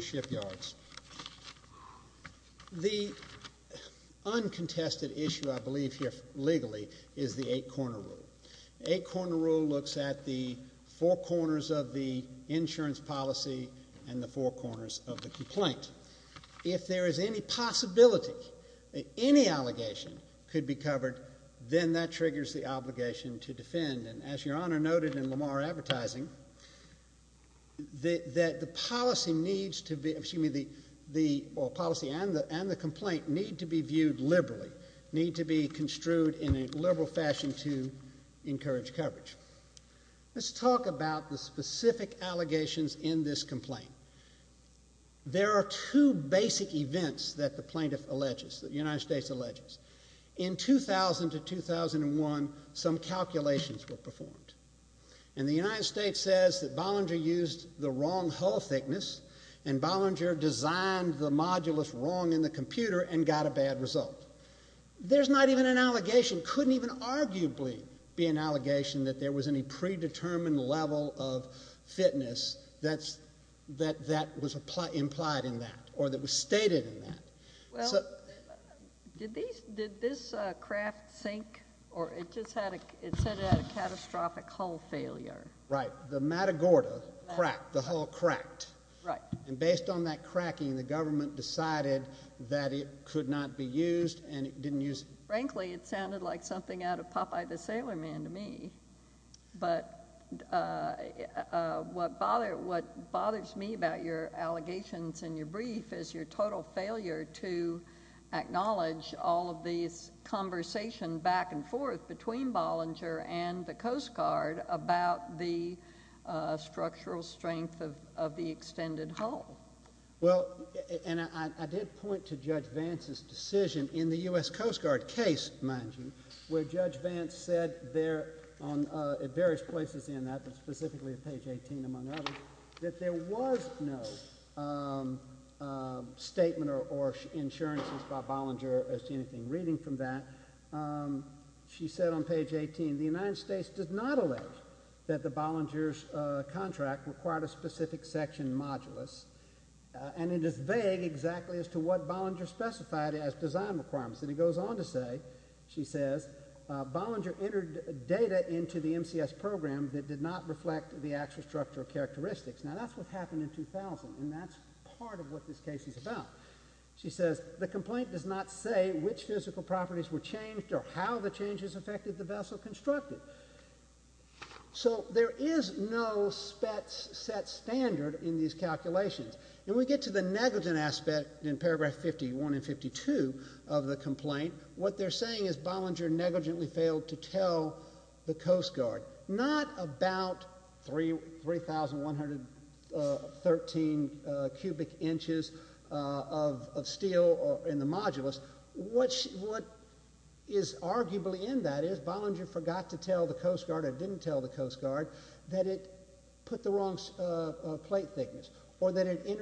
Shipyards. The uncontested issue, I believe here legally, is the eight corner rule. The eight corner rule looks at the four corners of the insurance policy and the four corners of the complaint. If there is any possibility that any allegation could be covered, then that triggers the obligation to defend. And as Your Honor noted in Lamar advertising, that the policy and the complaint need to be viewed liberally, need to be construed in a liberal fashion to encourage coverage. Let's talk about the specific allegations in this complaint. There are two basic events that the plaintiff alleges, that the United States, in 2001, some calculations were performed. And the United States says that Bollinger used the wrong hull thickness and Bollinger designed the modulus wrong in the computer and got a bad result. There's not even an allegation, couldn't even arguably be an allegation that there was any predetermined level of fitness that was implied in that or that was in that sink or it just had a, it said it had a catastrophic hull failure. Right. The Matagorda cracked, the hull cracked. Right. And based on that cracking, the government decided that it could not be used and it didn't use. Frankly, it sounded like something out of Popeye the Sailor Man to me. But what bothers me about your allegations in your brief is your total failure to acknowledge all of these conversation back and forth between Bollinger and the Coast Guard about the structural strength of the extended hull. Well, and I did point to Judge Vance's decision in the U.S. Coast Guard case, mind you, where Judge Vance said there on various places in that, but specifically at page 18 among others, that there was no statement or insurances by Bollinger as to anything reading from that. She said on page 18, the United States does not allege that the Bollinger's contract required a specific section modulus and it is vague exactly as to what Bollinger specified as design requirements. And it goes on to say, she says, Bollinger entered data into the statistics. Now that's what happened in 2000 and that's part of what this case is about. She says, the complaint does not say which physical properties were changed or how the changes affected the vessel constructed. So there is no set standard in these calculations. And we get to the negligent aspect in paragraph 51 and 52 of the complaint. What they're saying is Bollinger negligently failed to tell the Coast Guard. Not about 3,113 cubic inches of steel in the modulus. What is arguably in that is Bollinger forgot to tell the Coast Guard or didn't tell the Coast Guard that it put the wrong plate thickness or that it was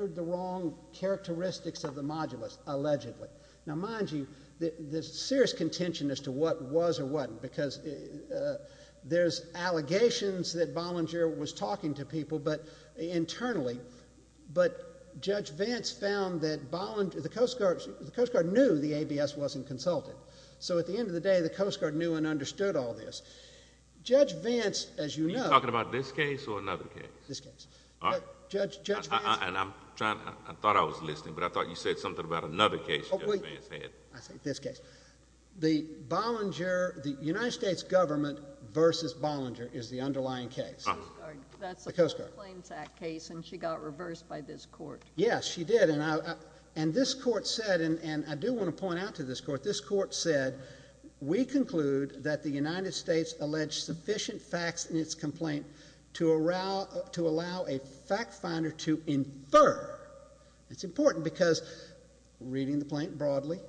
or wasn't. Because there's allegations that Bollinger was talking to people internally, but Judge Vance found that Bollinger, the Coast Guard knew the ABS wasn't consulted. So at the end of the day, the Coast Guard knew and understood all this. Judge Vance, as you know... Are you talking about this case or another case? This case. All right. Judge Vance... And I'm trying... I thought I was listening, but I thought you said something about another case Judge Vance had. I said this case. The Bollinger... The United States government versus Bollinger is the underlying case. The Coast Guard. The Coast Guard. That's a First Claims Act case and she got reversed by this court. Yes, she did. And this court said, and I do want to point out to this court, this court said, we conclude that the United States alleged sufficient facts in its complaint to allow a fact finder to infer. It's important because reading the complaint broadly,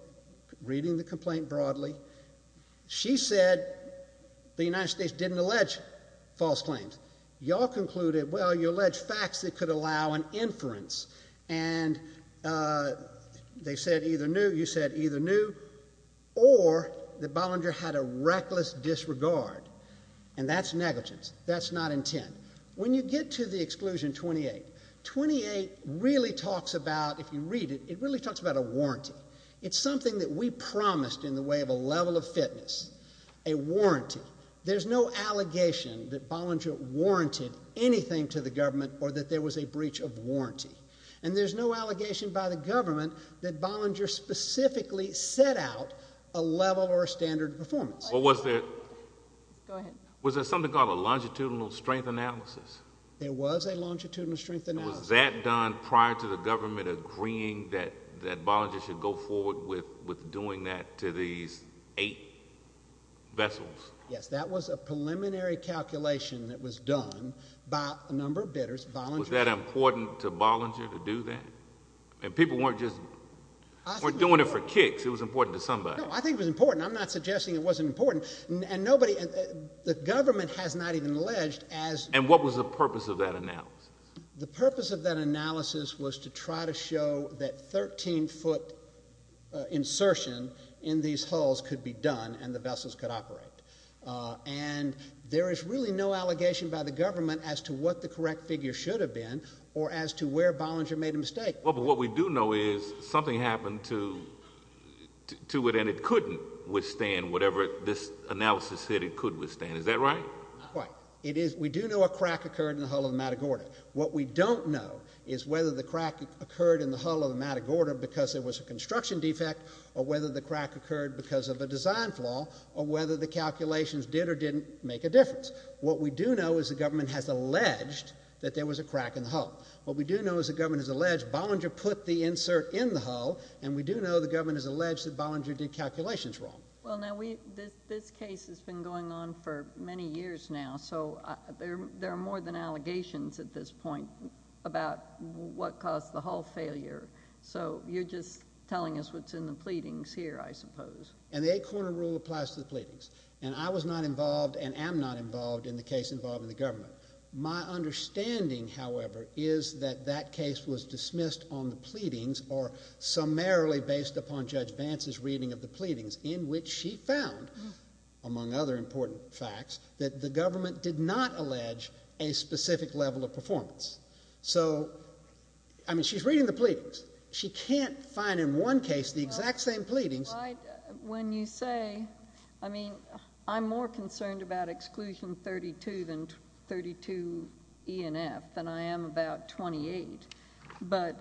reading the complaint broadly, she said the United States didn't allege false claims. Y'all concluded, well, you allege facts that could allow an inference. And they said either no, you said either no, or that Bollinger had a reckless disregard. And that's negligence. That's not intent. When you get to the exclusion 28, 28 really talks about, if you read it, it really talks about a warranty. It's something that we promised in the way of a level of fitness, a warranty. There's no allegation that Bollinger warranted anything to the government or that there was a breach of warranty. And there's no allegation by the government that Bollinger specifically set out a level or a standard of performance. Was there something called a longitudinal strength analysis? There was a longitudinal strength analysis. Was that done prior to the government agreeing that Bollinger should go forward with doing that to these eight vessels? Yes, that was a preliminary calculation that was done by a number of bidders, Bollinger. Was that important to Bollinger to do that? And people weren't just, weren't doing it for kicks. It was important to somebody. No, I think it was important. I'm not suggesting it wasn't important. And nobody, the government has not even alleged as... And what was the purpose of that analysis? The purpose of that analysis was to try to show that 13 foot insertion in these hulls could be done and the vessels could operate. And there is really no allegation by the government as to what the correct figure should have been or as to where Bollinger made a mistake. What we do know is something happened to it and it couldn't withstand whatever this analysis said it could withstand. Is that right? We do know a crack occurred in the hull of the Matagorda. What we don't know is whether the crack occurred in the hull of the Matagorda because there was a construction defect or whether the crack occurred because of a design flaw or whether the calculations did or didn't make a difference. What we do know is the government has alleged that there was a crack in the hull. What we do know is the government has alleged Bollinger put the insert in the hull and we do know the government has alleged that Bollinger did calculations wrong. Well, now we, this case has been going on for many years now, so there are more than allegations at this point about what caused the hull failure. So you're just telling us what's in the pleadings here, I suppose. And the eight corner rule applies to the pleadings. And I was not involved and am not involved in the case involving the government. My understanding, however, is that that case was dismissed on the pleadings or summarily based upon Judge Vance's reading of the pleadings in which she found, among other important facts, that the government did not allege a specific level of performance. So, I mean, she's reading the pleadings. She can't find in one case the exact same pleadings. Well, I, when you say, I mean, I'm more concerned about exclusion 32 than 32 E and F than I am about 28. But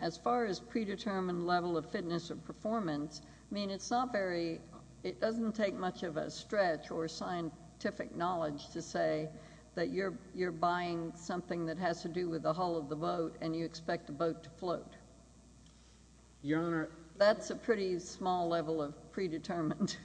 as far as predetermined level of fitness or performance, I mean, it's not very, it doesn't take much of a stretch or scientific knowledge to say that you're buying something that has to do with the hull of the boat and you expect the boat to float. Your Honor. Your Honor, that's a pretty small level of predetermined.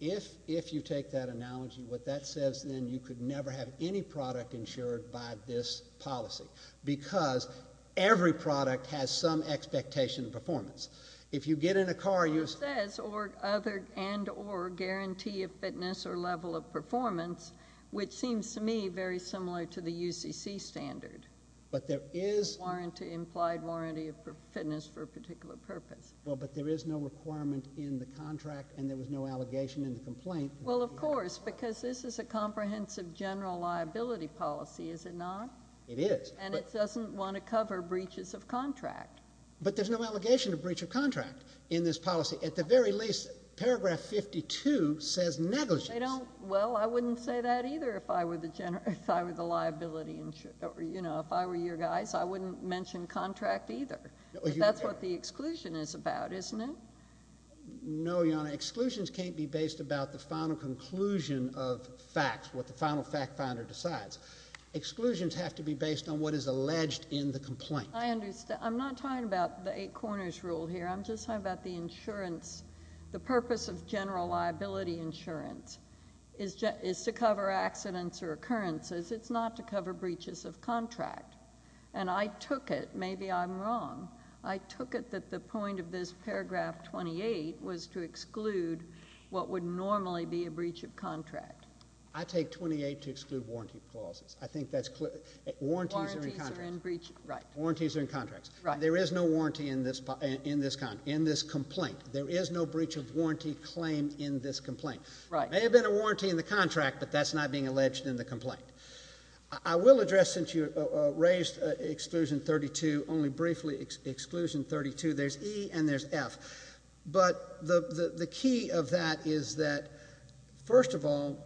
If, if you take that analogy, what that says, then you could never have any product insured by this policy because every product has some expectation of performance. If you get in a car, you It says or other and or guarantee of fitness or level of performance, which seems to me very similar to the UCC standard. But there is No warranty, implied warranty of fitness for a particular purpose. Well, but there is no requirement in the contract and there was no allegation in the complaint. Well, of course, because this is a comprehensive general liability policy, is it not? It is. And it doesn't want to cover breaches of contract. But there's no allegation of breach of contract in this policy. At the very least, paragraph 52 says negligence. They don't. Well, I wouldn't say that either if I were the general, if I were the liability insurer, you know, if I were your guys, I wouldn't mention contract either. That's what the exclusion is about, isn't it? No, your exclusions can't be based about the final conclusion of facts, what the final fact finder decides. Exclusions have to be based on what is alleged in the complaint. I understand. I'm not talking about the eight corners rule here. I'm just talking about the insurance. The purpose of general liability insurance is is to cover accidents or occurrences. It's not to cover breaches of contract. And I took it, maybe I'm wrong, I took it that the point of this paragraph 28 was to exclude what would normally be a breach of contract. I take 28 to exclude warranty clauses. I think that's clear. Warranties are in contracts. Warranties are in contracts. Right. There is no warranty in this, in this complaint. There is no breach of warranty claim in this complaint. Right. There may have been a warranty in the contract, but that's not being alleged in the complaint. I will address, since you raised exclusion 32, only briefly, exclusion 32, there's E and there's F. But the key of that is that, first of all,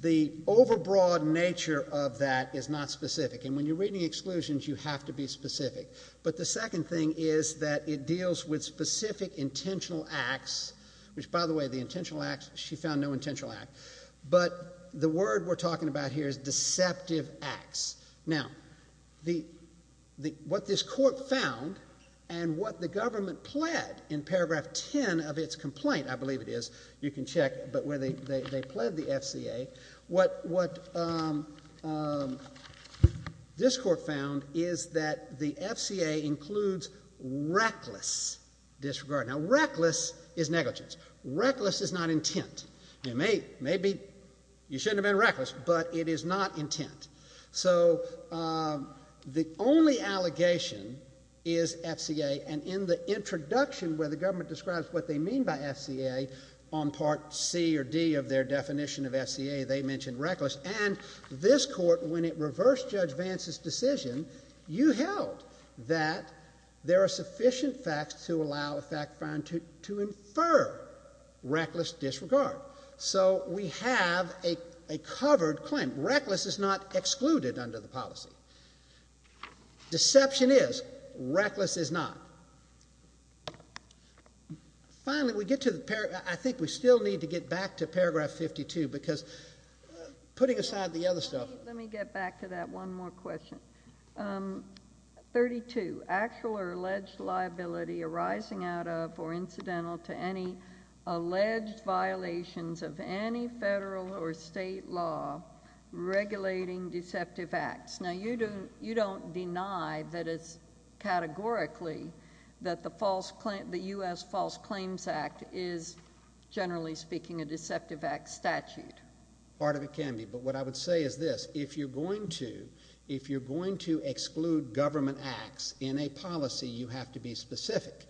the overbroad nature of that is not specific. And when you're reading exclusions, you have to be specific. But the second thing is that it deals with specific intentional acts, which, by the way, the intentional acts, she found no intentional act. But the word we're talking about here is deceptive acts. Now, the, the, what this court found and what the government pled in paragraph 10 of its complaint, I believe it is, you can check, but where they, they, they pled the FCA, what, what this court found is that the FCA includes reckless disregard. Now, reckless is negligence. Reckless is not intent. It may, maybe you shouldn't have been reckless, but it is not intent. So the only allegation is FCA. And in the introduction where the government describes what they mean by FCA on part C or D of their definition of FCA, they mentioned reckless. And this court, when it reversed Judge Vance's decision, you held that there are sufficient facts to allow a fact find to, to infer reckless disregard. So we have a, a covered claim. Reckless is not excluded under the policy. Deception is. Reckless is not. Finally, we get to the, I think we still need to get back to paragraph 52 because putting aside the other stuff. Let me get back to that one more question. 32, actual or alleged liability arising out of or incidental to any alleged violations of any federal or state law regulating deceptive acts. Now, you don't, you don't deny that it's categorically that the false claim, the U.S. False Claims Act is, generally speaking, a deceptive act statute. Part of it can be. But what I would say is this. If you're going to, if you're going to exclude government acts in a policy, you have to be specific.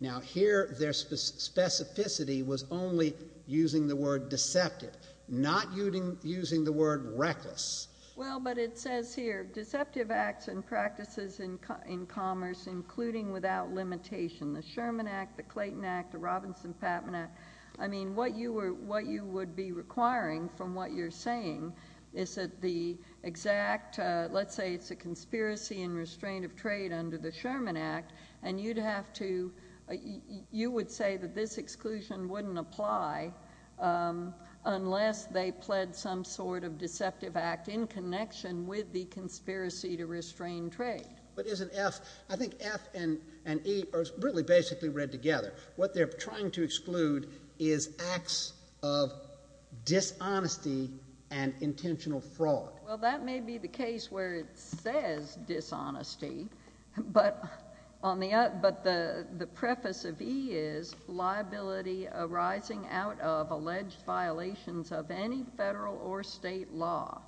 Now, here, their specificity was only using the word deceptive, not using, using the word reckless. Well, but it says here, deceptive acts and practices in, in commerce, including without limitation, the Sherman Act, the Clayton Act, the Robinson-Patman Act. I mean, what you were, what you would be requiring from what you're saying is that the exact, let's say it's a conspiracy and restraint of trade under the Sherman Act, and you'd have to, you would say that this exclusion wouldn't apply unless they pled some sort of deceptive act in connection with the conspiracy to restrain trade. But isn't F, I think F and, and E are really basically read together. What they're trying to exclude is acts of dishonesty and intentional fraud. Well, that may be the case where it says dishonesty, but on the, but the, the preface of E is liability arising out of alleged violations of any federal or state law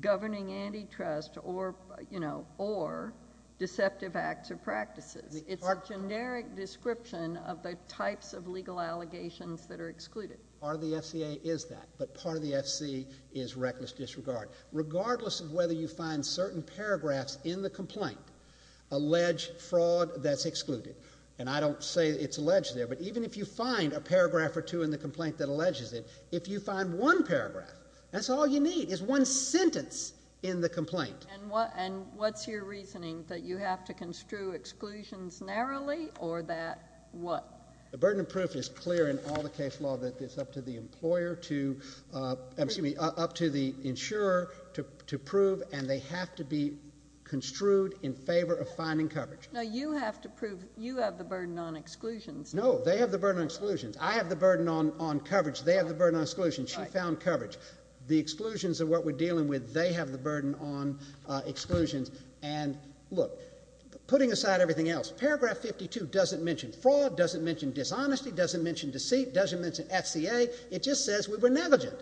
governing antitrust or, you know, or deceptive acts or practices. It's a generic description of the types of legal allegations that are excluded. Part of the FCA is that, but part of the FC is reckless disregard. Regardless of whether you find certain paragraphs in the complaint, alleged fraud, that's excluded. And I don't say it's alleged there, but even if you find a paragraph or two in the complaint that alleges it, if you find one paragraph, that's all you need, is one sentence in the complaint. And what, and what's your reasoning that you have to construe exclusions narrowly or that what? The burden of proof is clear in all the case law that it's up to the employer to, excuse me, up to the insurer to, to prove and they have to be construed in favor of finding coverage. Now you have to prove, you have the burden on exclusions. No, they have the burden on exclusions. I have the burden on, on coverage. They have the burden on exclusion. She found coverage. The exclusions of what we're dealing with, they have the burden on exclusions. And look, putting aside everything else, paragraph 52 doesn't mention fraud, doesn't mention dishonesty, doesn't mention deceit, doesn't mention FCA. It just says we were negligent.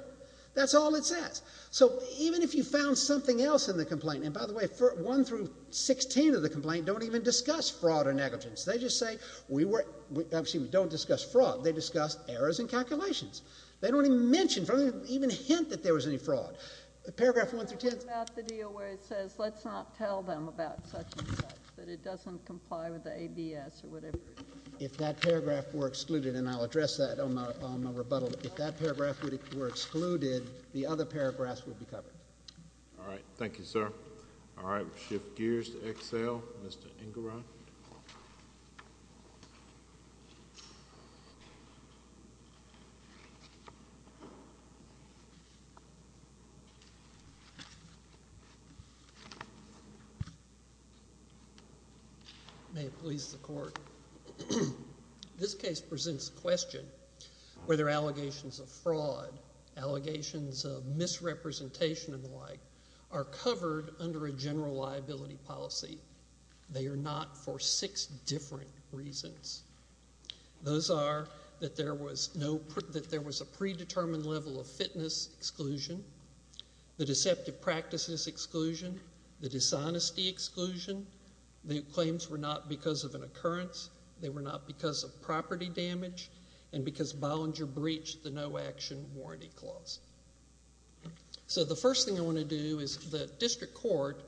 That's all it says. So even if you found something else in the complaint, and by the way, for one through 16 of the complaint, don't even discuss fraud or negligence. They just say we were, excuse me, don't discuss fraud. They discuss errors in calculations. They don't even mention, don't even hint that there was any fraud. Paragraph one through ten. What about the deal where it says, let's not tell them about such and such, but it doesn't comply with the ABS or whatever? If that paragraph were excluded, and I'll address that on my, on my rebuttal. If that paragraph were excluded, the other paragraphs would be covered. All right. Thank you, sir. All right. We'll shift gears to Excel. Mr. Ingram. May it please the Court. This case presents the question whether allegations of fraud, allegations of misrepresentation and the like are covered under a general liability policy. They are not for six different reasons. Those are that there was no, that there was a predetermined level of fitness exclusion, the deceptive practices exclusion, the dishonesty exclusion. The claims were not because of an occurrence. They were not because of property damage and because Bollinger breached the no action warranty clause. So the first thing I want to do is the district court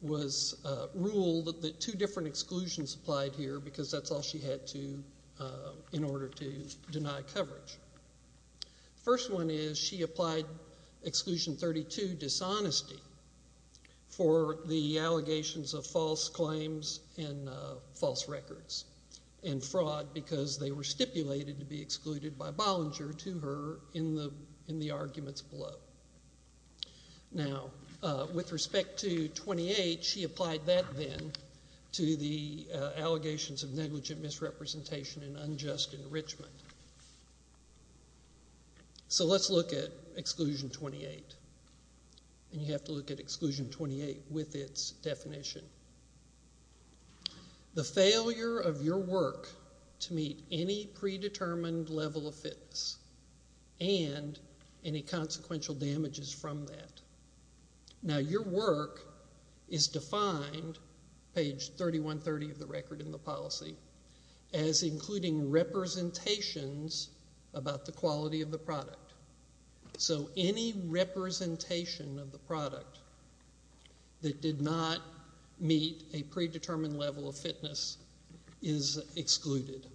was, ruled that two different exclusions applied here because that's all she had to, in order to deny coverage. First one is she applied exclusion 32, dishonesty, for the allegations of false claims and false records and fraud because they were stipulated to be excluded by Bollinger to her in the, in the arguments below. Now, with respect to 28, she applied that then to the allegations of negligent misrepresentation and unjust enrichment. So let's look at exclusion 28. And you have to look at exclusion 28 with its definition. The failure of your work to meet any predetermined level of fitness and any consequential damages from that. Now, your work is defined, page 3130 of the record in the policy, as including representations about the quality of the product. So any representation of the product that did not meet a predetermined level of fitness is excluded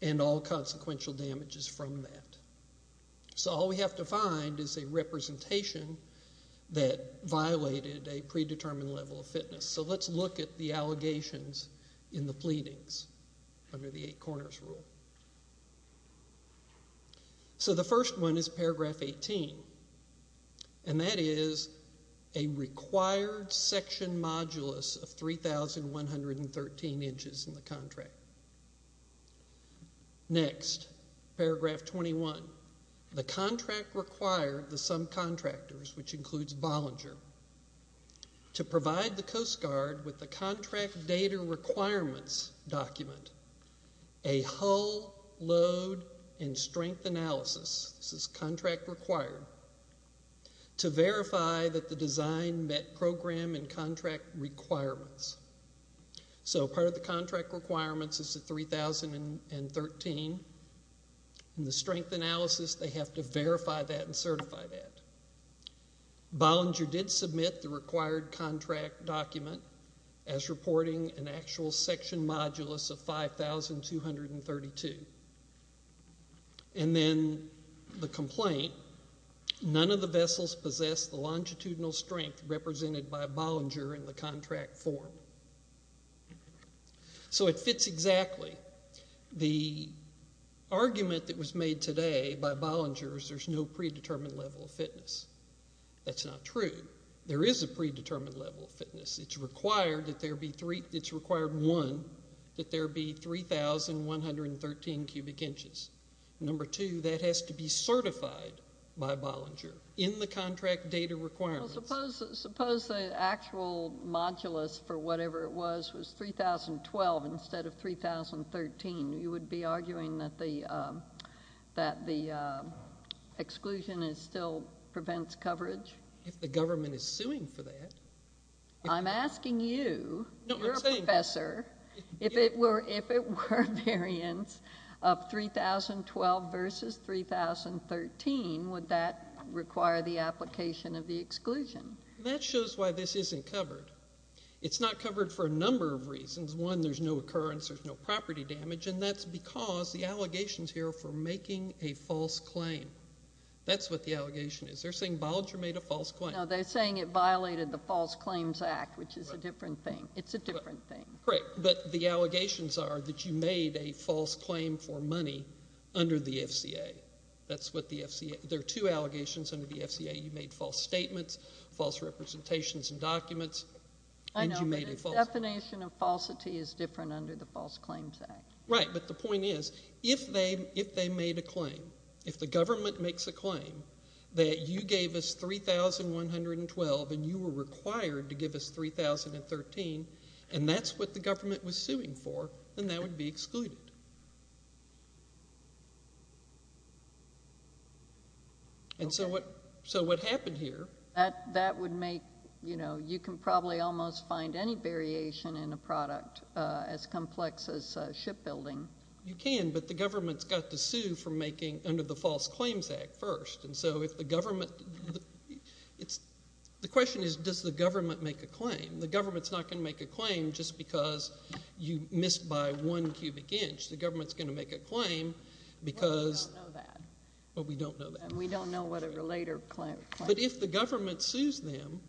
and all consequential damages from that. So all we have to find is a representation that violated a predetermined level of fitness. So let's look at the allegations in the pleadings under the eight corners rule. So the first one is paragraph 18. And that is a required section modulus of 3,113 inches in the contract. Next, paragraph 21. The contract required the subcontractors, which includes Bollinger, to provide the Coast Guard with the contract data requirements document, a hull load and strength analysis, this is contract required, to verify that the design met program and contract requirements. So part of the contract requirements is the 3,013. The strength analysis, they have to verify that and certify that. Bollinger did submit the required contract document as reporting an actual section modulus of 5,232. And then the complaint, none of the vessels possess the longitudinal strength represented by Bollinger in the contract form. So it fits exactly. The argument that was made today by Bollinger is there's no predetermined level of fitness. That's not true. There is a predetermined level of fitness. It's required that there be three, it's required one, that there be 3,113 cubic inches. Number two, that has to be certified by Bollinger in the contract data requirements. Well, suppose the actual modulus for whatever it was was 3,012 instead of 3,013. You would be arguing that the exclusion is still prevents coverage? If the government is suing for that. I'm asking you, you're a professor, if it were a variance of 3,012 versus 3,013, would that require the application of the exclusion? That shows why this isn't covered. It's not covered for a number of reasons. One, there's no occurrence, there's no property damage, and that's because the allegations here for making a false claim. That's what the allegation is. They're saying Bollinger made a false claim. No, they're saying it violated the False Claims Act, which is a different thing. It's a different thing. Right, but the allegations are that you made a false claim for money under the FCA. That's what the FCA, there are two allegations under the FCA. You made false statements, false representations and documents, and you made a false claim. I know, but the definition of falsity is different under the False Claims Act. Right, but the point is, if they made a claim, if the government makes a claim that you gave us 3,112 and you were required to give us 3,013, and that's what the government was suing for, then that would be excluded. So what happened here? That would make, you know, you can probably almost find any variation in a product as complex as shipbuilding. You can, but the government's got to sue for making under the False Claims Act first, and so if the government, it's, the question is does the government make a claim? The government's not going to make a claim just because you missed by one cubic inch. The government's going to make a claim because No, we don't know that. Well, we don't know that. We don't know what a related claim. But if the government sues them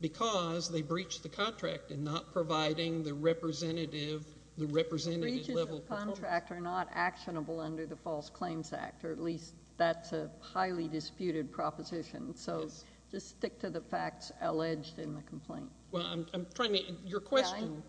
because they breached the contract and not providing the representative, the representative level The breaches of the contract are not actionable under the False Claims Act, or at least that's a highly disputed proposition, so just stick to the facts alleged in the complaint. Well, I'm trying to, your question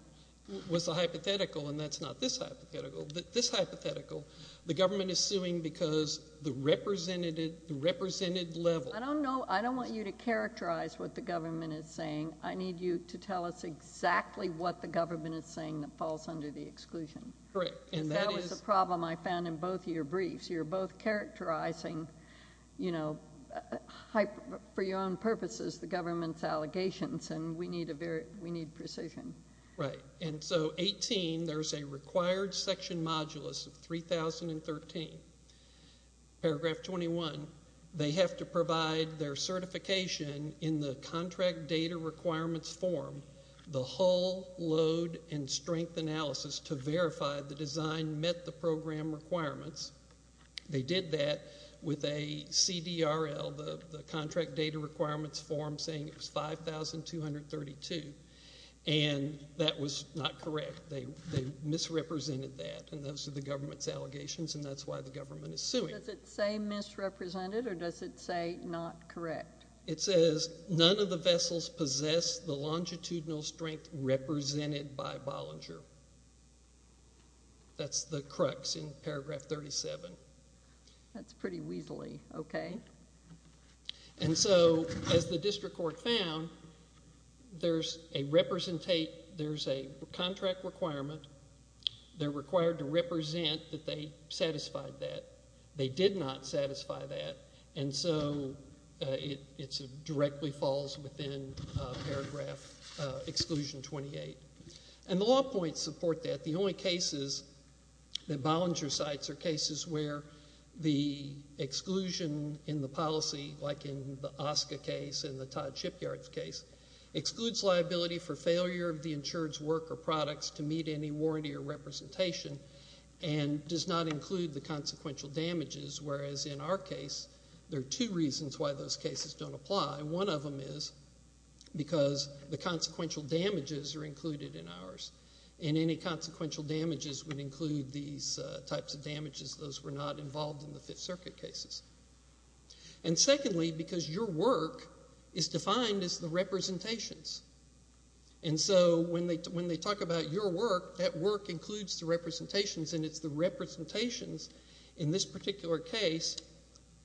was a hypothetical, and that's not this hypothetical. This hypothetical, the government is suing because the representative, the represented level I don't know, I don't want you to characterize what the government is saying. I need you to tell us exactly what the government is saying that falls under the exclusion. Correct, and that is a problem I found in both of your briefs. You're both characterizing, you know, for your own purposes, the government's allegations, and we need a very, we need precision. Right, and so 18, there's a required section modulus of 3013, paragraph 21, they have to provide their certification in the contract data requirements form, the whole load and set program requirements. They did that with a CDRL, the contract data requirements form, saying it was 5232, and that was not correct. They misrepresented that, and those are the government's allegations, and that's why the government is suing. Does it say misrepresented, or does it say not correct? It says none of the vessels possess the longitudinal strength represented by Bollinger. That's the crux in paragraph 37. That's pretty weaselly, okay. And so, as the district court found, there's a representate, there's a contract requirement, they're required to represent that they satisfied that. They did not satisfy that, and so it directly falls within paragraph exclusion 28, and the law points support that. The only cases that Bollinger cites are cases where the exclusion in the policy, like in the OSCA case and the Todd Shipyard case, excludes liability for failure of the insured's work or products to meet any warranty or representation, and does not include the consequential damages, whereas in our case, there are two reasons why those cases don't apply. One of them is because the consequential damages are included in ours, and any consequential damages would include these types of damages. Those were not involved in the Fifth Circuit cases. And secondly, because your work is defined as the representations, and so when they talk about your work, that work includes the representations, and it's the representations, in this particular case,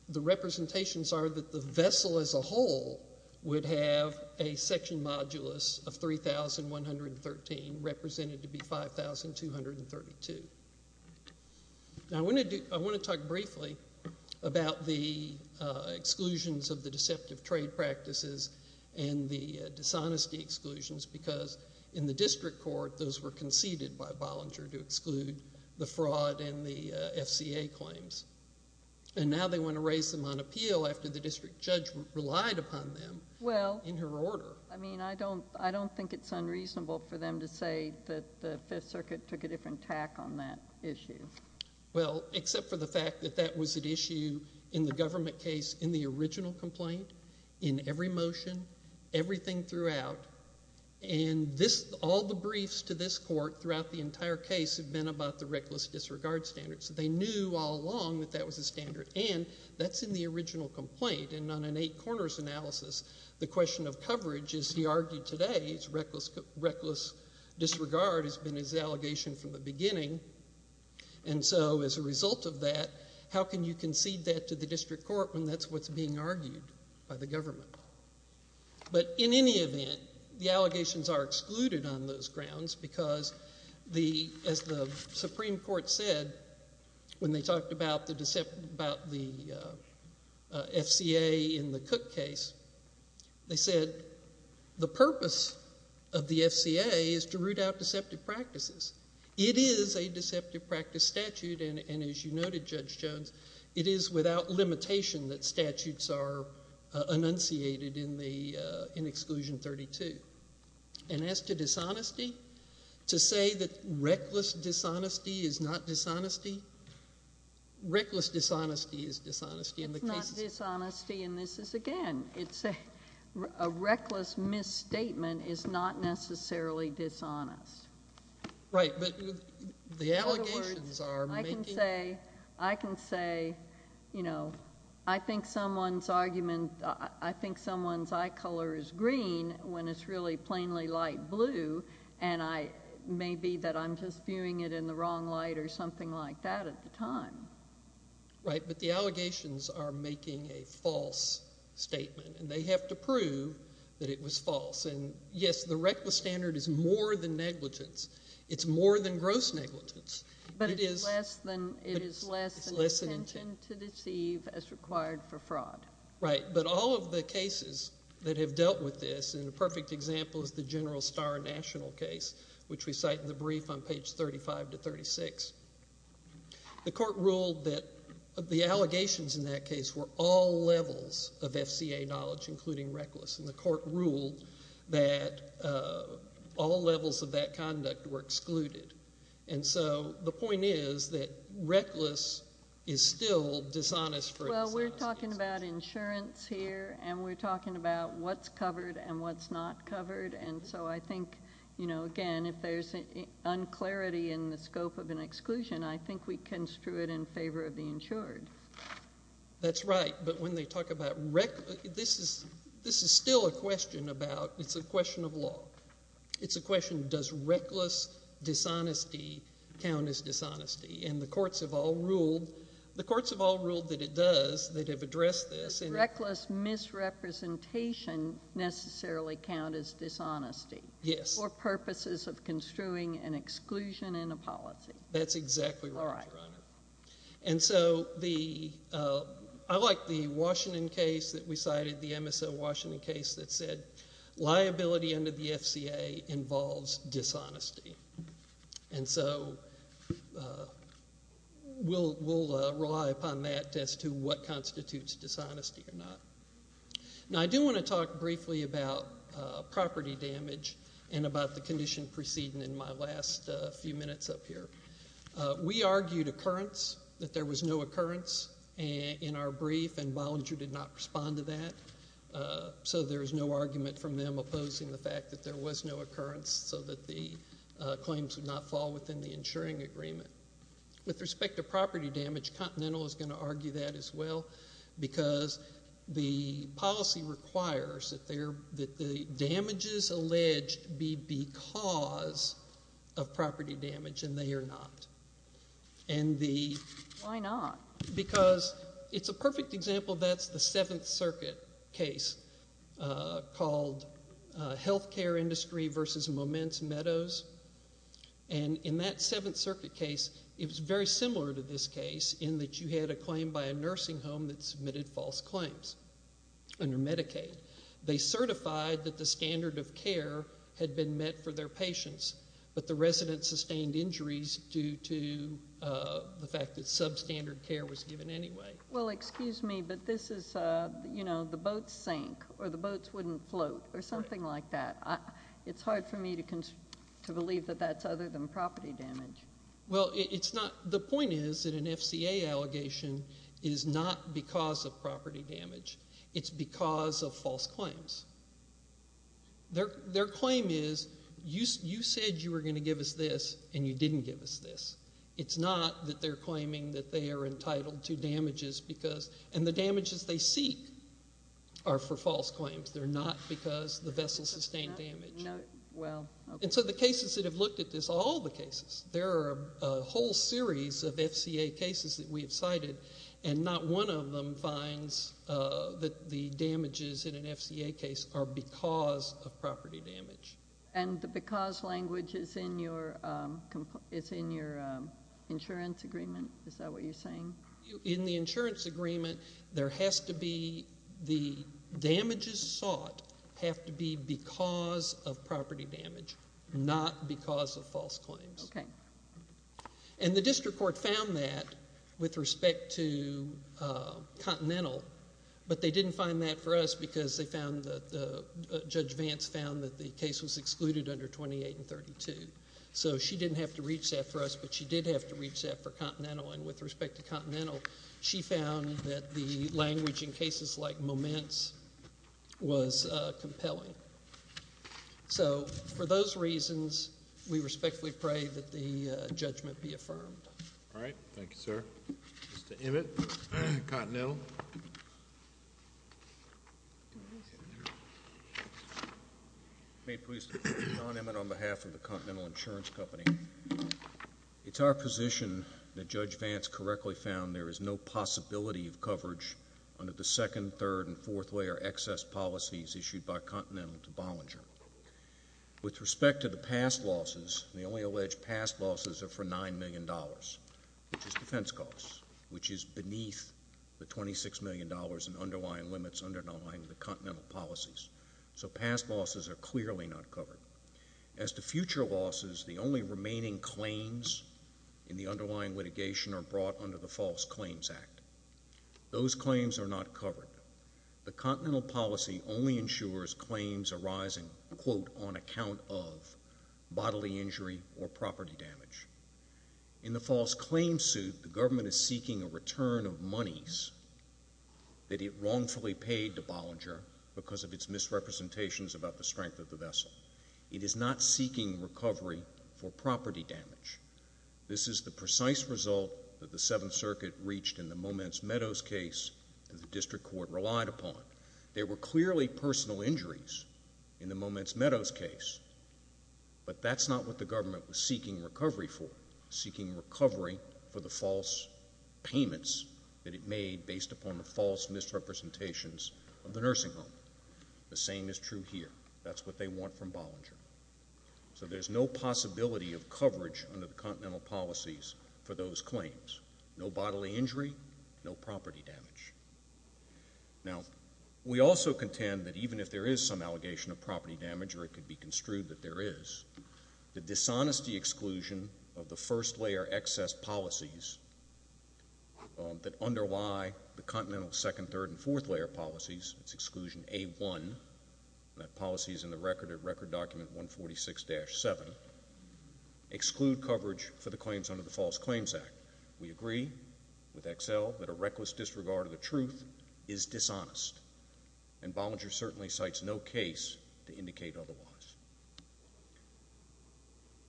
the representations are that the vessel as a whole would have a section modulus of 3,113 represented to be 5,232. Now, I want to talk briefly about the exclusions of the deceptive trade practices and the dishonesty exclusions, because in the district court, those were conceded by Bollinger to exclude the fraud and the FCA claims, and now they want to raise them on appeal after the district judge relied upon them in her order. Well, I mean, I don't think it's unreasonable for them to say that the Fifth Circuit took a different tack on that issue. Well, except for the fact that that was at issue in the government case in the original And this, all the briefs to this court throughout the entire case have been about the reckless disregard standard, so they knew all along that that was a standard, and that's in the original complaint, and on an eight corners analysis, the question of coverage, as he argued today, is reckless disregard has been his allegation from the beginning, and so as a result of that, how can you concede that to the district court when that's what's being The allegations are excluded on those grounds because, as the Supreme Court said when they talked about the FCA in the Cook case, they said the purpose of the FCA is to root out deceptive practices. It is a deceptive practice statute, and as you noted, Judge Jones, it is without limitation that statutes are enunciated in the, in Exclusion 32, and as to dishonesty, to say that reckless dishonesty is not dishonesty, reckless dishonesty is dishonesty in the case It's not dishonesty and this is, again, it's a reckless misstatement is not necessarily dishonest. Right, but the allegations are making I can say, I can say, you know, I think someone's argument, I think someone's eye color is green when it's really plainly light blue, and I may be that I'm just viewing it in the wrong light or something like that at the time. Right, but the allegations are making a false statement, and they have to prove that it was false, and yes, the reckless standard is more than negligence. It's more than gross negligence. But it is less than, it is less than intention to deceive as required for fraud. Right, but all of the cases that have dealt with this, and a perfect example is the General Starr National case, which we cite in the brief on page 35 to 36. The court ruled that the allegations in that case were all levels of FCA knowledge, including reckless, and the court ruled that all levels of that conduct were excluded, and so the point is that reckless is still dishonest for a dishonest instance. Well, we're talking about insurance here, and we're talking about what's covered and what's not covered, and so I think, you know, again, if there's an unclarity in the scope of an exclusion, I think we construe it in favor of the insured. That's right, but when they talk about reckless, this is still a question about, it's a question of law. It's a question, does reckless dishonesty count as dishonesty? And the courts have all ruled, the courts have all ruled that it does, that have addressed this. Reckless misrepresentation necessarily count as dishonesty. Yes. For purposes of construing an exclusion in a policy. That's exactly right, Your Honor, and so the, I like the Washington case that we cited, the MSO Washington case that said liability under the FCA involves dishonesty, and so we'll rely upon that as to what constitutes dishonesty or not. Now, I do want to talk briefly about property damage and about the condition preceding in my last few minutes up here. We argued occurrence, that there was no occurrence in our brief, and Bollinger did not respond to that, so there is no argument from them opposing the fact that there was no occurrence, so that the claims would not fall within the insuring agreement. With respect to property damage, Continental is going to argue that as well, because the policy requires that the damages alleged be because of property damage, and they are not. Why not? Because it's a perfect example, that's the Seventh Circuit case called Healthcare Industry versus Moments Meadows, and in that Seventh Circuit case, it was very similar to this one. They certified that the standard of care had been met for their patients, but the residents sustained injuries due to the fact that substandard care was given anyway. Well, excuse me, but this is, you know, the boats sank, or the boats wouldn't float, or something like that. It's hard for me to believe that that's other than property damage. Well, it's not, the point is that an FCA allegation is not because of property damage. It's because of false claims. Their claim is, you said you were going to give us this, and you didn't give us this. It's not that they're claiming that they are entitled to damages because, and the damages they seek are for false claims. They're not because the vessels sustained damage, and so the cases that have looked at this, all the cases, there are a whole series of FCA cases that we have cited, and not one of them finds that the damages in an FCA case are because of property damage. And the because language is in your insurance agreement? Is that what you're saying? In the insurance agreement, there has to be, the damages sought have to be because of property damage, not because of false claims. Okay. And the district court found that with respect to Continental, but they didn't find that for us because they found that, Judge Vance found that the case was excluded under 28 and 32. So she didn't have to reach that for us, but she did have to reach that for Continental, and with respect to Continental, she found that the language in cases like Moments was compelling. So for those reasons, we respectfully pray that the judgment be affirmed. All right. Thank you, sir. Mr. Emmett, Continental. May it please the Court, John Emmett on behalf of the Continental Insurance Company. It's our position that Judge Vance correctly found there is no possibility of coverage under the second, third, and fourth-layer excess policies issued by Continental to Bollinger. With respect to the past losses, the only alleged past losses are for $9 million, which is defense costs, which is beneath the $26 million in underlying limits underlying the Continental policies. So past losses are clearly not covered. As to future losses, the only remaining claims in the underlying litigation are brought under the False Claims Act. Those claims are not covered. The Continental policy only ensures claims arising, quote, on account of bodily injury or property damage. In the False Claims suit, the government is seeking a return of monies that it wrongfully paid to Bollinger because of its misrepresentations about the strength of the vessel. It is not seeking recovery for property damage. This is the precise result that the Seventh Circuit reached in the Moments Meadows case that the District Court relied upon. There were clearly personal injuries in the Moments Meadows case, but that's not what the government was seeking recovery for. It was seeking recovery for the false payments that it made based upon the false misrepresentations of the nursing home. The same is true here. That's what they want from Bollinger. So there's no possibility of coverage under the Continental policies for those claims. No bodily injury, no property damage. Now, we also contend that even if there is some allegation of property damage, or it could be construed that there is, the dishonesty exclusion of the first-layer excess policies that underlie the Continental second, third, and fourth-layer policies, its exclusion in A1, that policy is in the record at Record Document 146-7, exclude coverage for the claims under the False Claims Act. We agree with Excel that a reckless disregard of the truth is dishonest, and Bollinger certainly cites no case to indicate otherwise.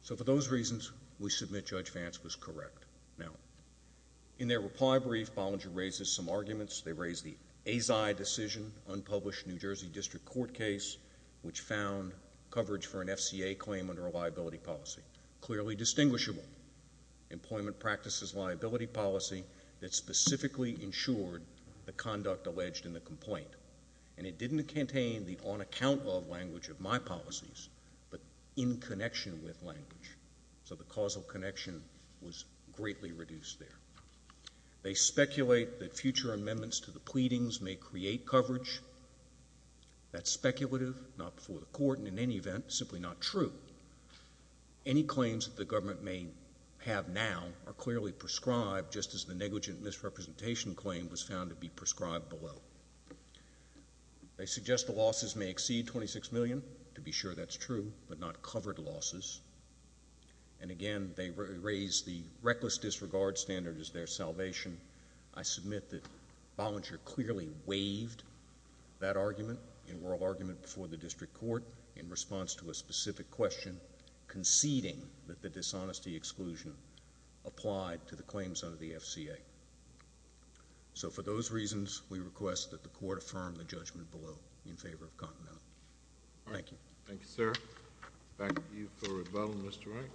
So for those reasons, we submit Judge Vance was correct. Now, in their reply brief, Bollinger raises some arguments. They raise the AZI decision, unpublished New Jersey District Court case, which found coverage for an FCA claim under a liability policy. Clearly distinguishable. Employment practices liability policy that specifically ensured the conduct alleged in the complaint. And it didn't contain the on-account love language of my policies, but in connection with language. So the causal connection was greatly reduced there. They speculate that future amendments to the pleadings may create coverage. That's speculative, not before the court, and in any event, simply not true. Any claims that the government may have now are clearly prescribed, just as the negligent misrepresentation claim was found to be prescribed below. They suggest the losses may exceed $26 million, to be sure that's true, but not covered losses. And again, they raise the reckless disregard standard as their salvation. I submit that Bollinger clearly waived that argument in oral argument before the District Court in response to a specific question, conceding that the dishonesty exclusion applied to the claims under the FCA. So for those reasons, we request that the court affirm the judgment below in favor of Continental. Thank you. Thank you, sir. Back to you for rebuttal, Mr. Wright.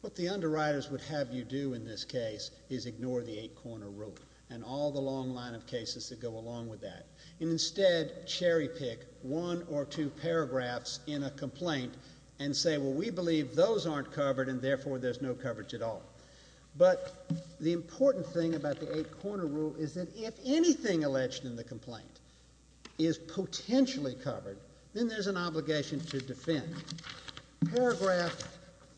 What the underwriters would have you do in this case is ignore the eight-corner rule and all the long line of cases that go along with that, and instead cherry-pick one or two paragraphs in a complaint and say, well, we believe those aren't covered and therefore there's no coverage at all. But the important thing about the eight-corner rule is that if anything alleged in the complaint is potentially covered, then there's an obligation to defend. Paragraph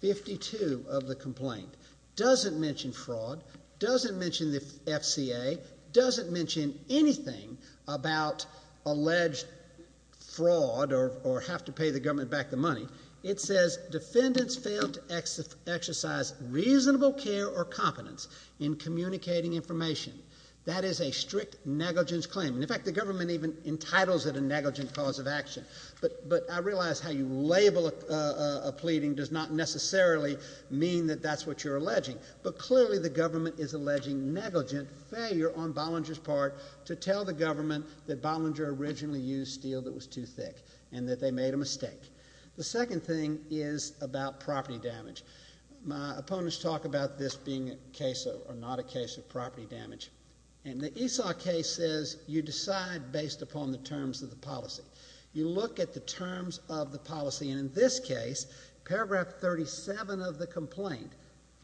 52 of the complaint doesn't mention fraud, doesn't mention the FCA, doesn't mention anything about alleged fraud or have to pay the government back the money. It says defendants failed to exercise reasonable care or competence in communicating information. That is a strict negligence claim. In fact, the government even entitles it a negligent cause of action. But I realize how you label a pleading does not necessarily mean that that's what you're alleging. But clearly the government is alleging negligent failure on Bollinger's part to tell the government that Bollinger originally used steel that was too thick and that they made a mistake. The second thing is about property damage. My opponents talk about this being a case or not a case of property damage. And the Esau case says you decide based upon the terms of the policy. You look at the terms of the policy. And in this case, paragraph 37 of the complaint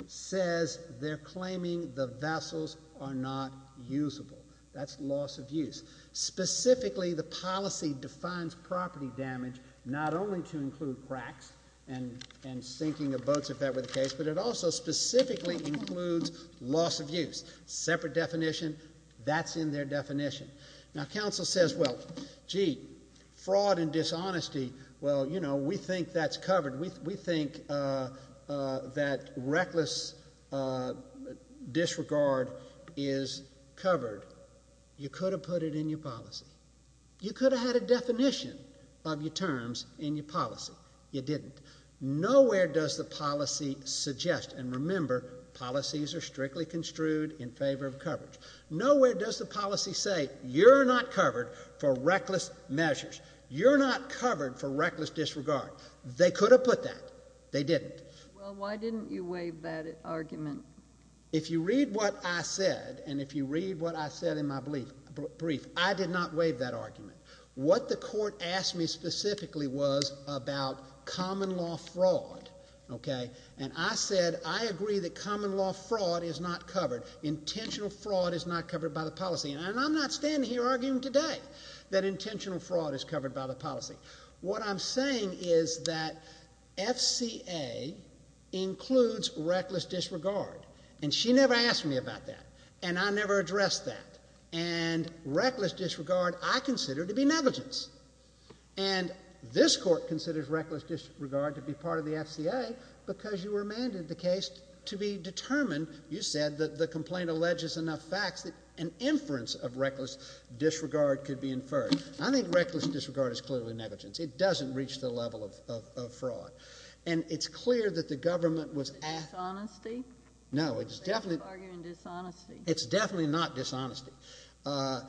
says they're claiming the vessels are not usable. That's loss of use. Specifically, the policy defines property damage not only to include cracks and sinking of boats, if that were the case, but it also specifically includes loss of use. Separate definition. That's in their definition. Now, counsel says, well, gee, fraud and dishonesty, well, you know, we think that's covered. We could have had a definition of your terms in your policy. You didn't. Nowhere does the policy suggest, and remember, policies are strictly construed in favor of coverage. Nowhere does the policy say you're not covered for reckless measures. You're not covered for reckless disregard. They could have put that. They didn't. Well, why didn't you waive that argument? If you read what I said and if you read what I said in my brief, I did not waive that argument. What the court asked me specifically was about common law fraud, okay? And I said I agree that common law fraud is not covered. Intentional fraud is not covered by the policy. And I'm not standing here arguing today that intentional fraud is covered by the policy. What I'm saying is that FCA includes reckless disregard. And she never asked me about that. And I never considered it to be negligence. And this court considers reckless disregard to be part of the FCA because you remanded the case to be determined, you said, that the complaint alleges enough facts that an inference of reckless disregard could be inferred. I think reckless disregard is clearly negligence. It doesn't reach the level of fraud. And it's Dishonesty? No, it's definitely not dishonesty. I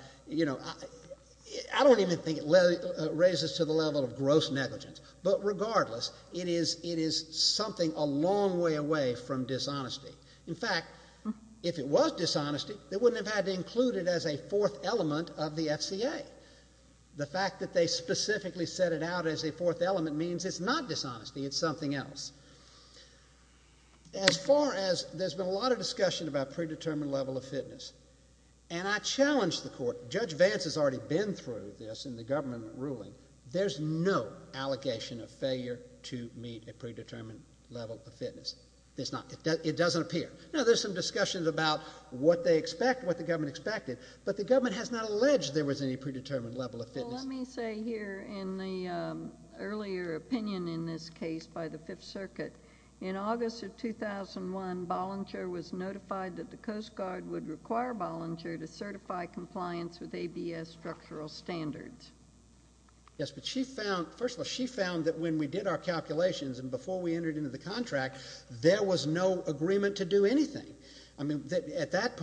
don't even think it raises to the level of gross negligence. But regardless, it is something a long way away from dishonesty. In fact, if it was dishonesty, they wouldn't have had to include it as a fourth element of the FCA. The fact that they specifically set it out as a fourth element means it's not dishonesty, it's something else. As far as, there's been a lot of discussion about predetermined level of fitness. And I challenge the court, Judge Vance has already been through this in the government ruling. There's no allegation of failure to meet a predetermined level of fitness. It doesn't appear. Now, there's some discussions about what they expect, what the government expected, but the government has not alleged there was any predetermined level of fitness. Well, let me say here in the earlier opinion in this case by the Fifth Circuit, in August of 2001, Bollinger was notified that the Coast Guard would require Bollinger to certify compliance with ABS structural standards. Yes, but she found, first of all, she found that when we did our calculations and before we entered into the contract, there was no agreement to do anything. I mean, at that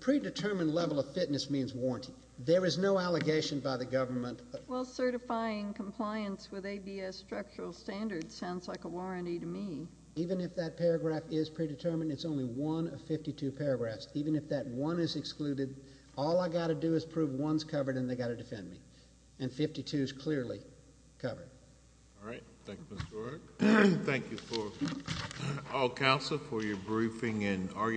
predetermined level of fitness means warranty. There is no allegation by the government. Well, certifying compliance with ABS structural standards sounds like a warranty to me. Even if that paragraph is predetermined, it's only one of 52 paragraphs. Even if that one is excluded, all I've got to do is prove one's covered and they've got to defend me. And 52's clearly covered. All right. Thank you, Mr. O'Rourke. Thank you for, all counsel, for your briefing and